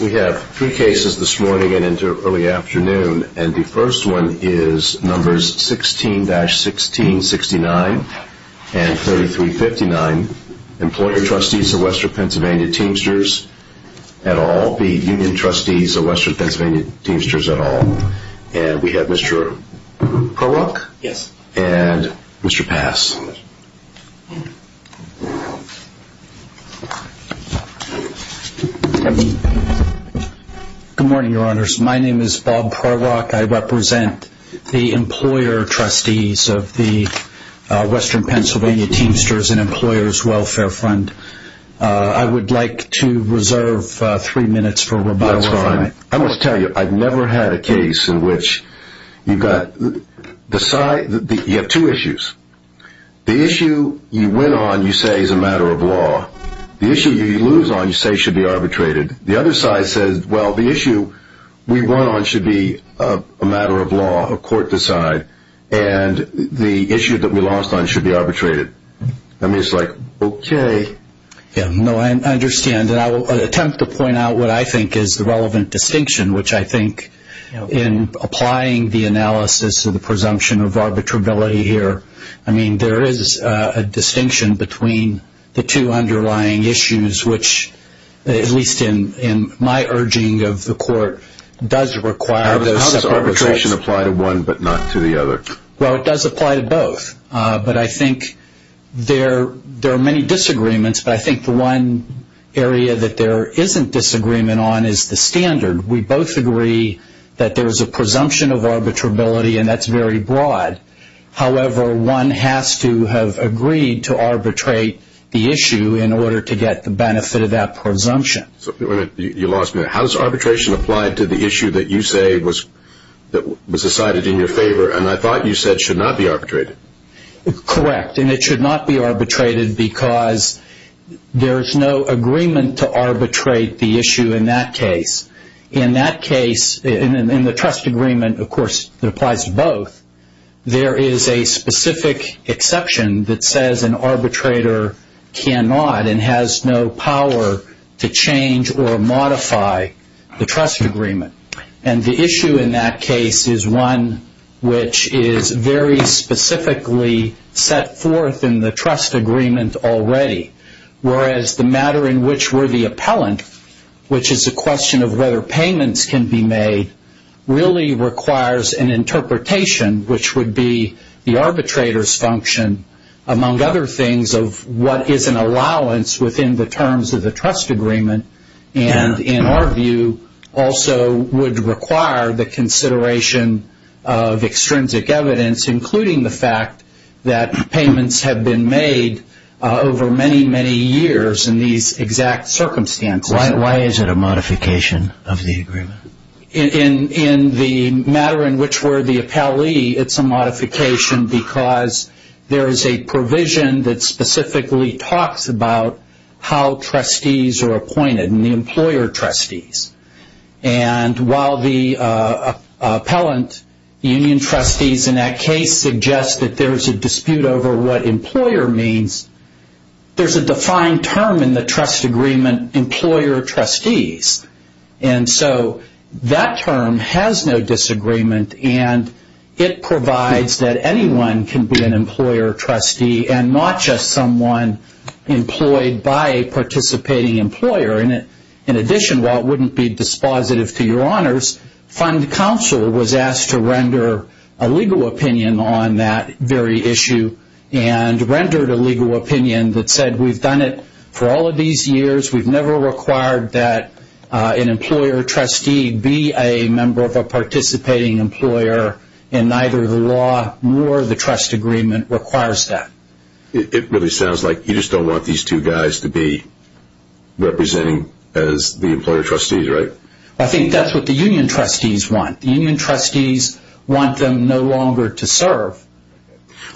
We have three cases this morning and into early afternoon, and the first one is numbers 16-1669 and 3359, Employer Trustees of Western Pennsylvania Teamsters et al. The Union Trustees of Western Pennsylvania Teamsters et al. And we have Mr. Korok and Mr. Pass. Good morning, Your Honors. My name is Bob Korok. I represent the Employer Trustees of the Western Pennsylvania Teamsters and Employers Welfare Fund. I would like to reserve three minutes for rebuttal. I must tell you, I've never had a case in which you have two issues. The issue you win on, you say is a matter of law. The issue you lose on, you say should be arbitrated. The other side says, well, the issue we won on should be a matter of law, a court decide, and the issue that we lost on should be arbitrated. I mean, it's like, okay. Yeah, no, I understand, and I will attempt to point out what I think is the relevant distinction, which I think in applying the analysis of the presumption of arbitrability here, I mean, there is a distinction between the two underlying issues, which at least in my urging of the court does require those separate results. How does arbitration apply to one but not to the other? Well, it does apply to both, but I think there are many disagreements, but I think the one area that there isn't disagreement on is the standard. We both agree that there is a presumption of arbitrability, and that's very broad. However, one has to have agreed to arbitrate the issue in order to get the benefit of that presumption. You lost me there. How does arbitration apply to the issue that you say was decided in your favor, and I thought you said should not be arbitrated? Correct, and it should not be arbitrated because there is no agreement to arbitrate the issue in that case. In that case, in the trust agreement, of course, it applies to both. There is a specific exception that says an arbitrator cannot and has no power to change or modify the trust agreement, and the issue in that case is one which is very specifically set forth in the trust agreement already, whereas the matter in which we're the appellant, which is a question of whether payments can be made, really requires an interpretation, which would be the arbitrator's function, among other things, of what is an allowance within the terms of the trust agreement, and, in our view, also would require the consideration of extrinsic evidence, including the fact that payments have been made over many, many years in these exact circumstances. Why is it a modification of the agreement? In the matter in which we're the appellee, it's a modification because there is a provision that specifically talks about how trustees are appointed, and the employer trustees, and while the appellant union trustees in that case suggest that there's a dispute over what employer means, there's a defined term in the trust agreement, employer trustees, and so that term has no disagreement, and it provides that anyone can be an employer trustee and not just someone employed by a participating employer. In addition, while it wouldn't be dispositive to your honors, fund counsel was asked to render a legal opinion on that very issue and rendered a legal opinion that said we've done it for all of these years, we've never required that an employer trustee be a member of a participating employer, and neither the law nor the trust agreement requires that. It really sounds like you just don't want these two guys to be representing as the employer trustees, right? I think that's what the union trustees want. The union trustees want them no longer to serve.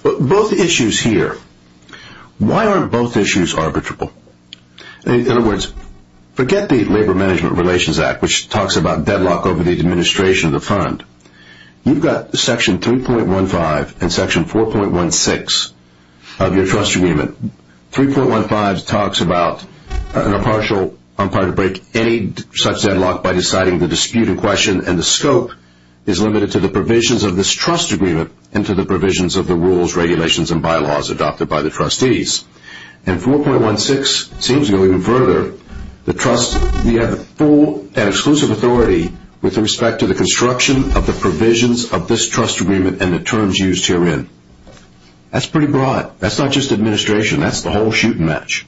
Both issues here. Why aren't both issues arbitrable? In other words, forget the Labor Management Relations Act, which talks about deadlock over the administration of the fund. You've got section 3.15 and section 4.16 of your trust agreement. 3.15 talks about an impartial, I'm sorry, to break any such deadlock by deciding the dispute in question and the scope is limited to the provisions of this trust agreement and to the provisions of the rules, regulations, and bylaws adopted by the trustees. And 4.16 seems to go even further. The trust, we have full and exclusive authority with respect to the construction of the provisions of this trust agreement and the terms used herein. That's pretty broad. That's not just administration. That's the whole shoot and match.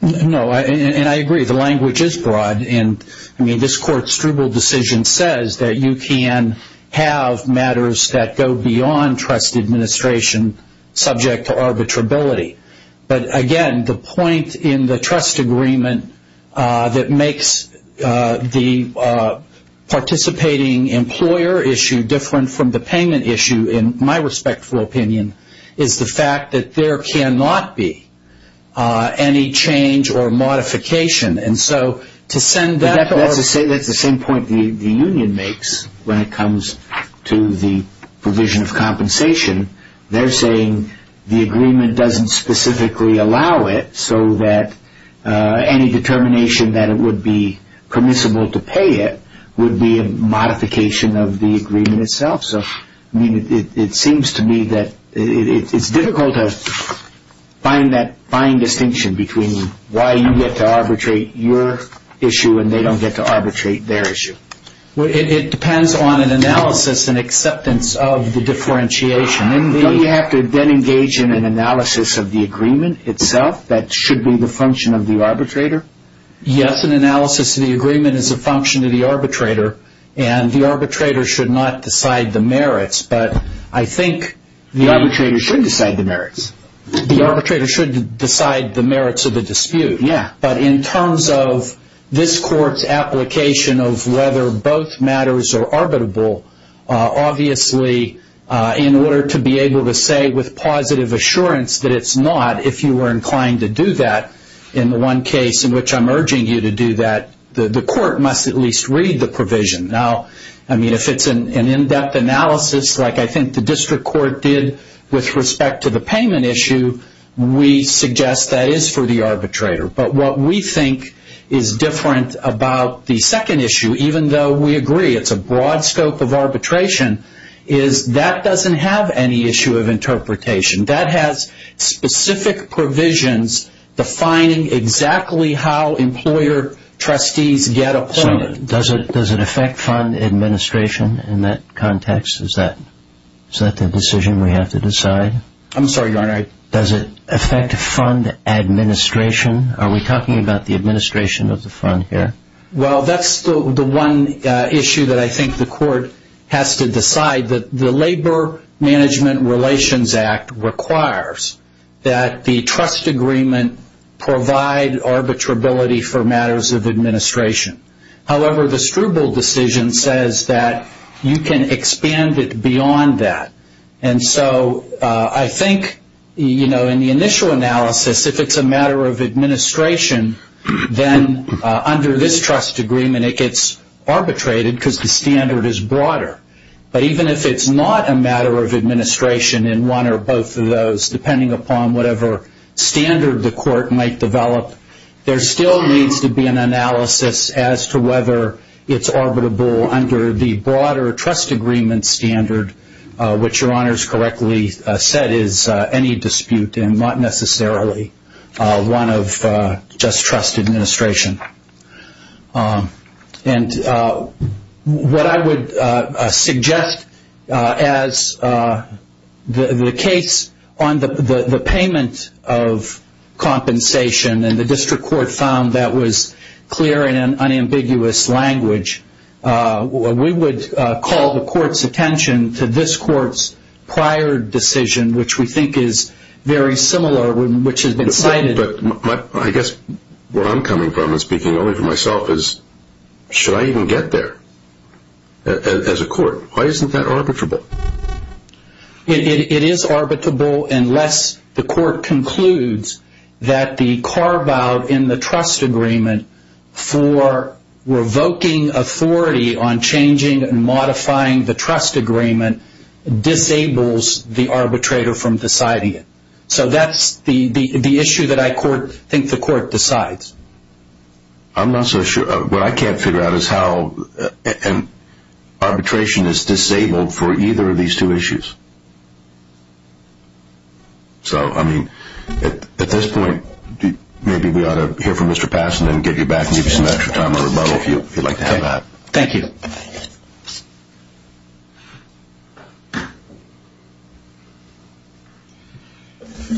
No, and I agree. The language is broad. I mean, this court's struble decision says that you can have matters that go beyond trust administration subject to arbitrability. But, again, the point in the trust agreement that makes the participating employer issue different from the payment issue, in my respectful opinion, is the fact that there cannot be any change or modification. And so to send that to our That's the same point the union makes when it comes to the provision of compensation. They're saying the agreement doesn't specifically allow it so that any determination that it would be permissible to pay it would be a modification of the agreement itself. It seems to me that it's difficult to find that fine distinction between why you get to arbitrate your issue and they don't get to arbitrate their issue. It depends on an analysis and acceptance of the differentiation. Don't you have to then engage in an analysis of the agreement itself that should be the function of the arbitrator? Yes, an analysis of the agreement is a function of the arbitrator. And the arbitrator should not decide the merits. But I think the arbitrator should decide the merits. The arbitrator should decide the merits of the dispute. Yeah. But in terms of this court's application of whether both matters are arbitrable, obviously, in order to be able to say with positive assurance that it's not, if you were inclined to do that in the one case in which I'm urging you to do that, the court must at least read the provision. Now, I mean, if it's an in-depth analysis like I think the district court did with respect to the payment issue, we suggest that is for the arbitrator. But what we think is different about the second issue, even though we agree it's a broad scope of arbitration, is that doesn't have any issue of interpretation. That has specific provisions defining exactly how employer trustees get appointed. So does it affect fund administration in that context? Is that the decision we have to decide? I'm sorry, Your Honor. Does it affect fund administration? Are we talking about the administration of the fund here? Well, that's the one issue that I think the court has to decide. The Labor Management Relations Act requires that the trust agreement provide arbitrability for matters of administration. However, the Struble decision says that you can expand it beyond that. And so I think, you know, in the initial analysis, if it's a matter of administration, then under this trust agreement it gets arbitrated because the standard is broader. But even if it's not a matter of administration in one or both of those, depending upon whatever standard the court might develop, there still needs to be an analysis as to whether it's arbitrable under the broader trust agreement standard, which Your Honors correctly said is any dispute and not necessarily one of just trust administration. And what I would suggest as the case on the payment of compensation, and the district court found that was clear in an unambiguous language, we would call the court's attention to this court's prior decision, which we think is very similar, which has been cited. But I guess where I'm coming from, and speaking only for myself, is should I even get there as a court? Why isn't that arbitrable? It is arbitrable unless the court concludes that the carve-out in the trust agreement for revoking authority on changing and modifying the trust agreement disables the arbitrator from deciding it. So that's the issue that I think the court decides. I'm not so sure. What I can't figure out is how arbitration is disabled for either of these two issues. So, I mean, at this point, maybe we ought to hear from Mr. Passon and get you back if you'd like to have that. Thank you.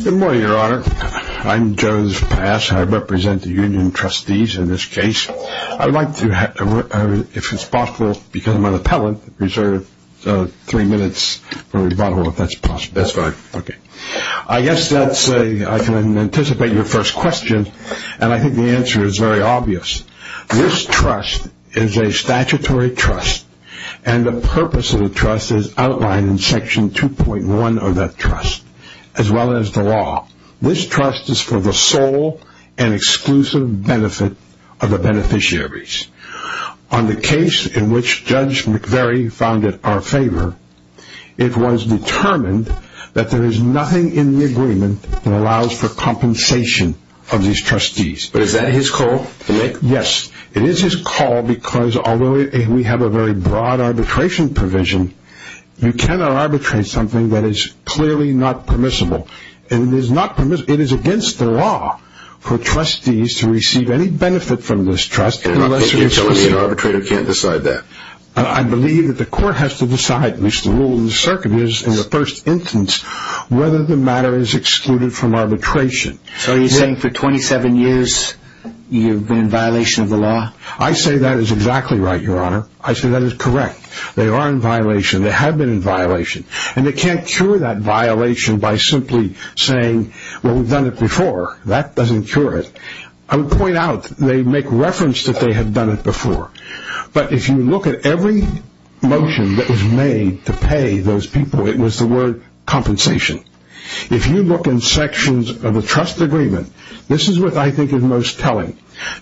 Good morning, Your Honor. I'm Joe Pass. I represent the union trustees in this case. I would like to, if it's possible, because I'm an appellant, reserve three minutes for rebuttal if that's possible. That's fine. Okay. I guess that's a, I can anticipate your first question, and I think the answer is very obvious. This trust is a statutory trust, and the purpose of the trust is outlined in Section 2.1 of that trust, as well as the law. This trust is for the sole and exclusive benefit of the beneficiaries. On the case in which Judge McVery founded our favor, it was determined that there is nothing in the agreement that allows for compensation of these trustees. But is that his call to make? Yes. It is his call because, although we have a very broad arbitration provision, you cannot arbitrate something that is clearly not permissible. And it is not permissible. It is against the law for trustees to receive any benefit from this trust. You're telling me an arbitrator can't decide that? I believe that the court has to decide, which the rule of the circuit is in the first instance, whether the matter is excluded from arbitration. So are you saying for 27 years you've been in violation of the law? I say that is exactly right, Your Honor. I say that is correct. They are in violation. They have been in violation. And they can't cure that violation by simply saying, well, we've done it before. That doesn't cure it. I would point out, they make reference that they have done it before. But if you look at every motion that was made to pay those people, no, it was the word compensation. If you look in sections of the trust agreement, this is what I think is most telling.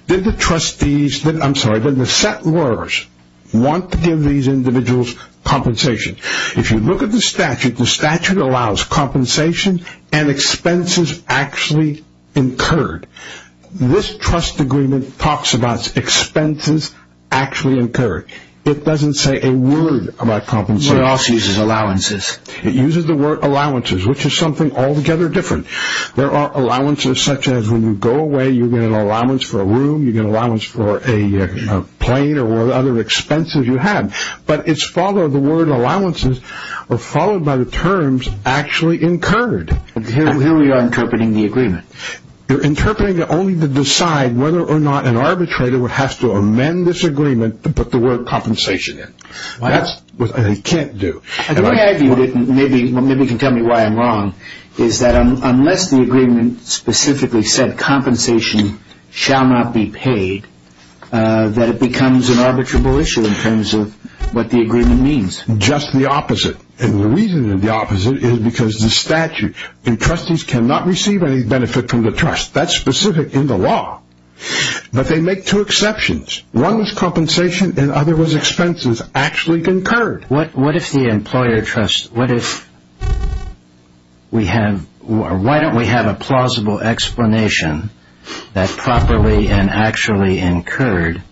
Did the set lawyers want to give these individuals compensation? If you look at the statute, the statute allows compensation and expenses actually incurred. This trust agreement talks about expenses actually incurred. It doesn't say a word about compensation. It also uses allowances. It uses the word allowances, which is something altogether different. There are allowances such as when you go away, you get an allowance for a room, you get an allowance for a plane or whatever other expenses you have. But it's followed, the word allowances are followed by the terms actually incurred. Here we are interpreting the agreement. You're interpreting it only to decide whether or not an arbitrator would have to amend this agreement to put the word compensation in. That's what they can't do. The way I view it, and maybe you can tell me why I'm wrong, is that unless the agreement specifically said compensation shall not be paid, that it becomes an arbitrable issue in terms of what the agreement means. Just the opposite, and the reason it's the opposite is because the statute and trustees cannot receive any benefit from the trust. That's specific in the law. But they make two exceptions. One was compensation and the other was expenses actually incurred. What if the employer trust, what if we have, why don't we have a plausible explanation that properly and actually incurred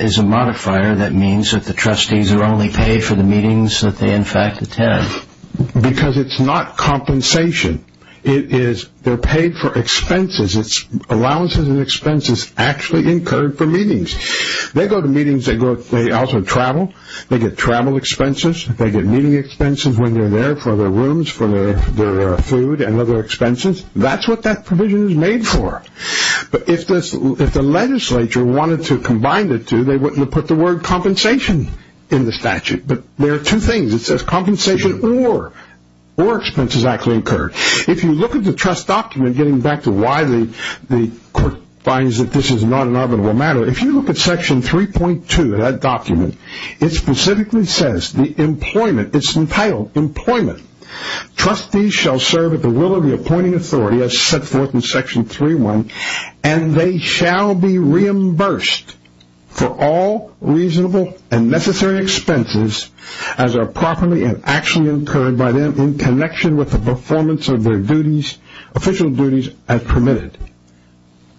is a modifier that means that the trustees are only paid for the meetings that they in fact attend? Because it's not compensation. It is they're paid for expenses. It's allowances and expenses actually incurred for meetings. They go to meetings. They also travel. They get travel expenses. They get meeting expenses when they're there for their rooms, for their food and other expenses. That's what that provision is made for. But if the legislature wanted to combine the two, they wouldn't have put the word compensation in the statute. But there are two things. It says compensation or expenses actually incurred. If you look at the trust document, getting back to why the court finds that this is not an arbitrable matter, if you look at section 3.2 of that document, it specifically says the employment, it's entitled employment, trustees shall serve at the will of the appointing authority as set forth in section 3.1, and they shall be reimbursed for all reasonable and necessary expenses as are properly and actually incurred by them in connection with the performance of their official duties as permitted.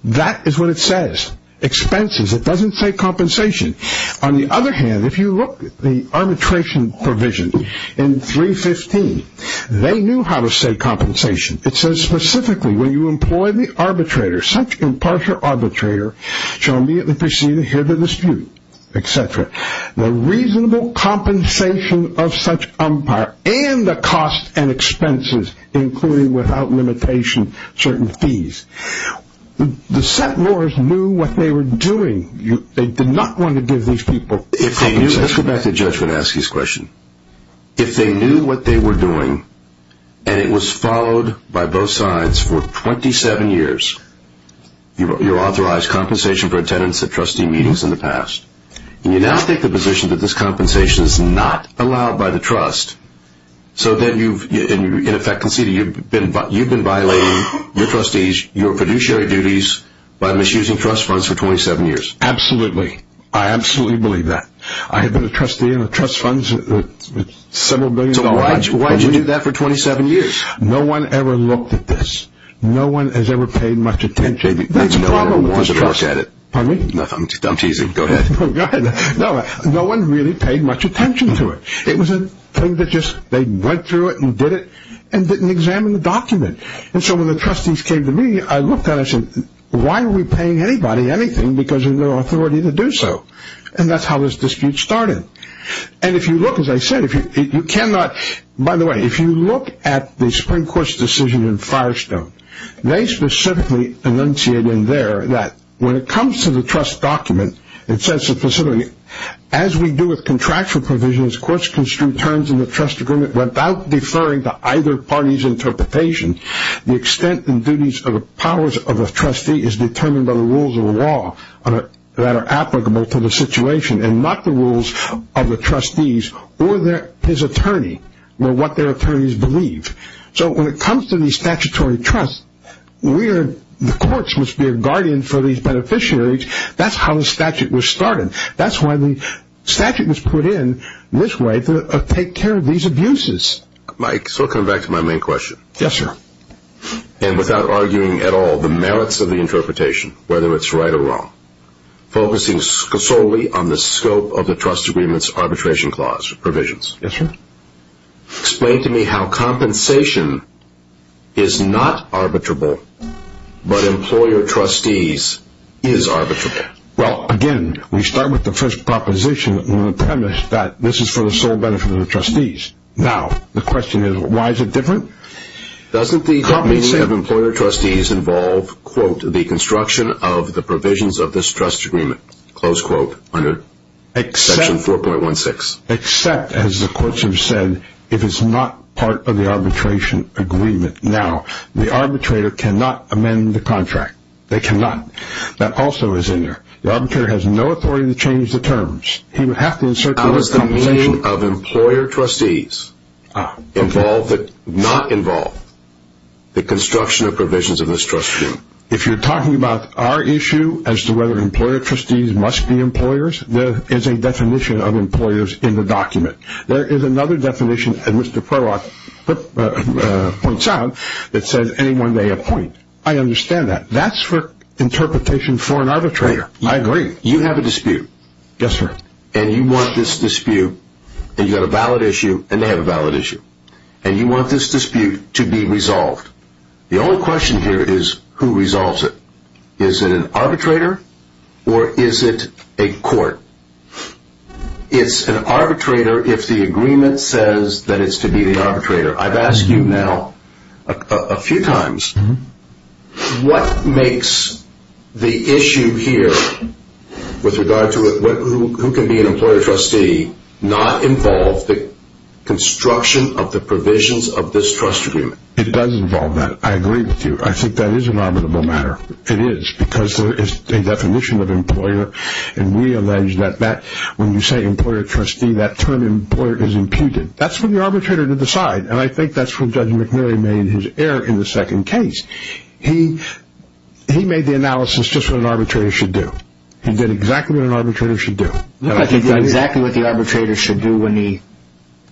That is what it says. Expenses. It doesn't say compensation. On the other hand, if you look at the arbitration provision in 3.15, they knew how to say compensation. It says specifically when you employ the arbitrator, such impartial arbitrator shall immediately proceed to hear the dispute, et cetera. The reasonable compensation of such umpire and the cost and expenses, including without limitation, certain fees. The set lawyers knew what they were doing. They did not want to give these people compensation. Let's go back to Judge Manaski's question. If they knew what they were doing and it was followed by both sides for 27 years, you authorize compensation for attendance at trustee meetings in the past. You now take the position that this compensation is not allowed by the trust, so then you've, in effect, conceded you've been violating your trustees, your fiduciary duties by misusing trust funds for 27 years. Absolutely. I absolutely believe that. I have been a trustee in the trust funds for several billions of dollars. Why did you do that for 27 years? No one ever looked at this. No one has ever paid much attention. That's a problem with the trust. I'm teasing. Go ahead. Go ahead. No one really paid much attention to it. It was a thing that just they went through it and did it and didn't examine the document. And so when the trustees came to me, I looked at it and said, why are we paying anybody anything because there's no authority to do so? And that's how this dispute started. And if you look, as I said, you cannot. By the way, if you look at the Supreme Court's decision in Firestone, they specifically enunciate in there that when it comes to the trust document, it says specifically, as we do with contractual provisions, courts construe terms in the trust agreement without deferring to either party's interpretation. The extent and duties of the powers of a trustee is determined by the rules of the law that are applicable to the situation and not the rules of the trustees or his attorney or what their attorneys believe. So when it comes to the statutory trust, the courts must be a guardian for these beneficiaries. That's how the statute was started. That's why the statute was put in this way to take care of these abuses. Mike, so I'll come back to my main question. Yes, sir. And without arguing at all the merits of the interpretation, whether it's right or wrong, focusing solely on the scope of the trust agreement's arbitration clause provisions. Yes, sir. Explain to me how compensation is not arbitrable, but employer-trustees is arbitrable. Well, again, we start with the first proposition in the premise that this is for the sole benefit of the trustees. Now, the question is, why is it different? Doesn't the company of employer-trustees involve, quote, the construction of the provisions of this trust agreement, close quote, under section 4.16? Except, as the courts have said, if it's not part of the arbitration agreement. Now, the arbitrator cannot amend the contract. They cannot. That also is in there. The arbitrator has no authority to change the terms. He would have to insert the word compensation. The composition of employer-trustees involve, not involve, the construction of provisions of this trust agreement. If you're talking about our issue as to whether employer-trustees must be employers, there is a definition of employers in the document. There is another definition that Mr. Prolock points out that says anyone may appoint. I understand that. That's for interpretation for an arbitrator. I agree. You have a dispute. Yes, sir. And you want this dispute, and you've got a valid issue, and they have a valid issue. And you want this dispute to be resolved. The only question here is who resolves it. Is it an arbitrator or is it a court? It's an arbitrator if the agreement says that it's to be the arbitrator. I've asked you now a few times, what makes the issue here with regard to who can be an employer-trustee not involve the construction of the provisions of this trust agreement? It does involve that. I agree with you. I think that is an arbitrable matter. It is because there is a definition of employer, and we allege that when you say employer-trustee, that term employer is imputed. That's for the arbitrator to decide, and I think that's where Judge McNerney made his error in the second case. He made the analysis just what an arbitrator should do. He did exactly what an arbitrator should do. He did exactly what the arbitrator should do when he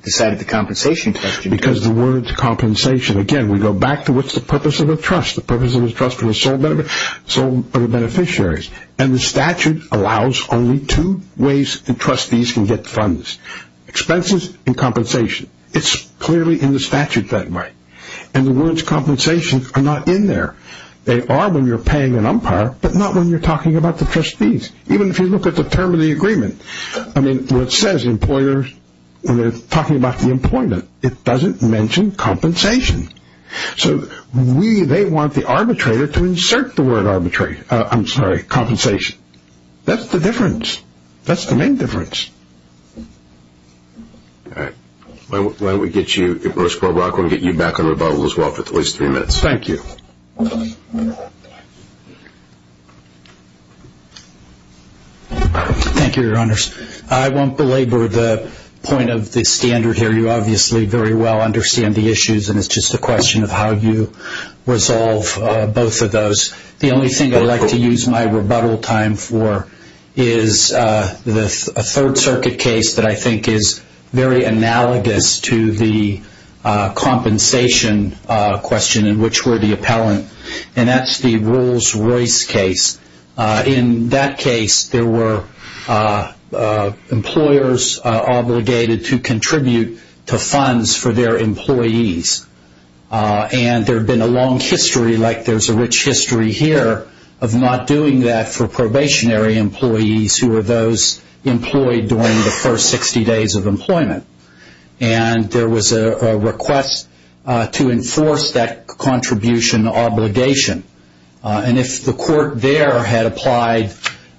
decided the compensation question. Because the word compensation, again, we go back to what's the purpose of a trust. The purpose of a trust is sole beneficiaries, and the statute allows only two ways that trustees can get funds, expenses and compensation. It's clearly in the statute that way, and the words compensation are not in there. They are when you're paying an umpire, but not when you're talking about the trustees. Even if you look at the term of the agreement, I mean, what it says, employers, when they're talking about the employment, it doesn't mention compensation. So we, they want the arbitrator to insert the word arbitrate, I'm sorry, compensation. That's the difference. That's the main difference. All right. Why don't we get you, Bruce Korbrach, we'll get you back on rebuttal as well for at least three minutes. Thank you. Thank you, Your Honors. I won't belabor the point of the standard here. You obviously very well understand the issues, and it's just a question of how you resolve both of those. The only thing I'd like to use my rebuttal time for is a Third Circuit case that I think is very analogous to the compensation question in which we're the appellant, and that's the Rolls-Royce case. In that case, there were employers obligated to contribute to funds for their employees. And there had been a long history, like there's a rich history here, of not doing that for probationary employees who were those employed during the first 60 days of employment. And there was a request to enforce that contribution obligation. And if the court there had applied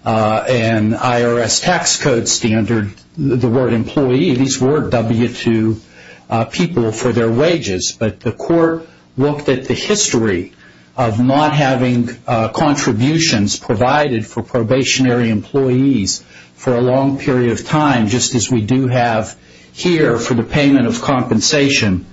an IRS tax code standard, the word employee, these were W-2 people for their wages, but the court looked at the history of not having contributions provided for probationary employees for a long period of time, just as we do have here for the payment of compensation,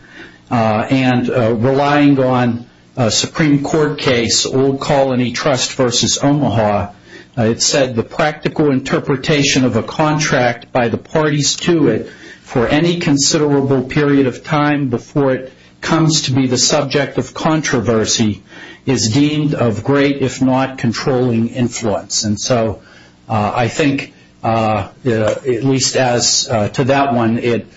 and relying on a Supreme Court case, Old Colony Trust versus Omaha, it said the practical interpretation of a contract by the parties to it for any considerable period of time before it comes to be the subject of controversy is deemed of great, if not controlling, influence. And so I think, at least as to that one, it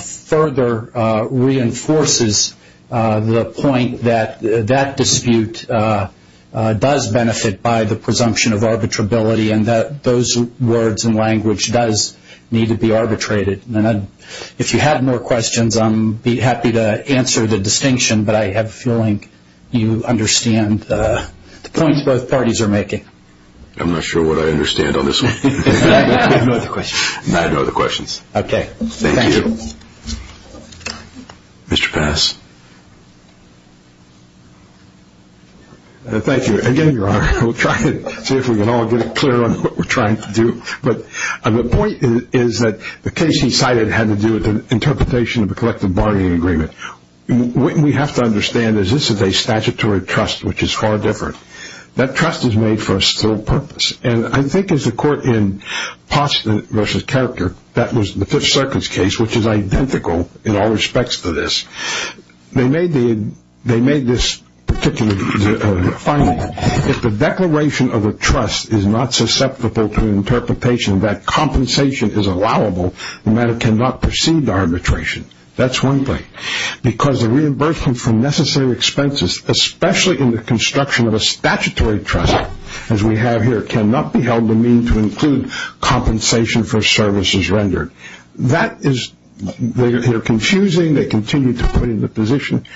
further reinforces the point that that dispute does benefit by the presumption of arbitrability and that those words and language does need to be arbitrated. And if you have more questions, I'm happy to answer the distinction, but I have a feeling you understand the points both parties are making. I'm not sure what I understand on this one. I have no other questions. I have no other questions. Okay. Thank you. Thank you. Mr. Pass? Thank you. Again, Your Honor, we'll try to see if we can all get it clear on what we're trying to do. But the point is that the case he cited had to do with an interpretation of a collective bargaining agreement. What we have to understand is this is a statutory trust, which is far different. That trust is made for a still purpose. And I think as the court in Poston v. Character, that was the Fifth Circuit's case, which is identical in all respects to this, they made this particular finding. If the declaration of a trust is not susceptible to an interpretation that compensation is allowable, the matter cannot proceed to arbitration. That's one thing. Because the reimbursement for necessary expenses, especially in the construction of a statutory trust as we have here, cannot be held to mean to include compensation for services rendered. That is confusing. They continue to put it in the position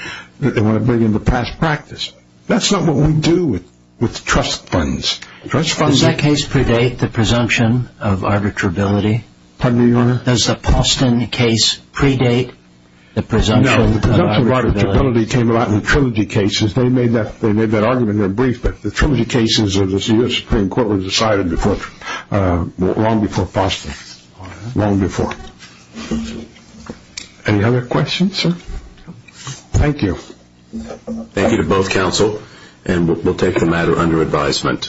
that they want to bring into past practice. That's not what we do with trust funds. Does that case predate the presumption of arbitrability? Pardon me, Your Honor? Does the Poston case predate the presumption of arbitrability? No, the presumption of arbitrability came about in the Trilogy cases. They made that argument in their brief, but the Trilogy cases of the Supreme Court were decided long before Poston. Long before. Any other questions, sir? Thank you. Thank you to both counsel, and we'll take the matter under advisement.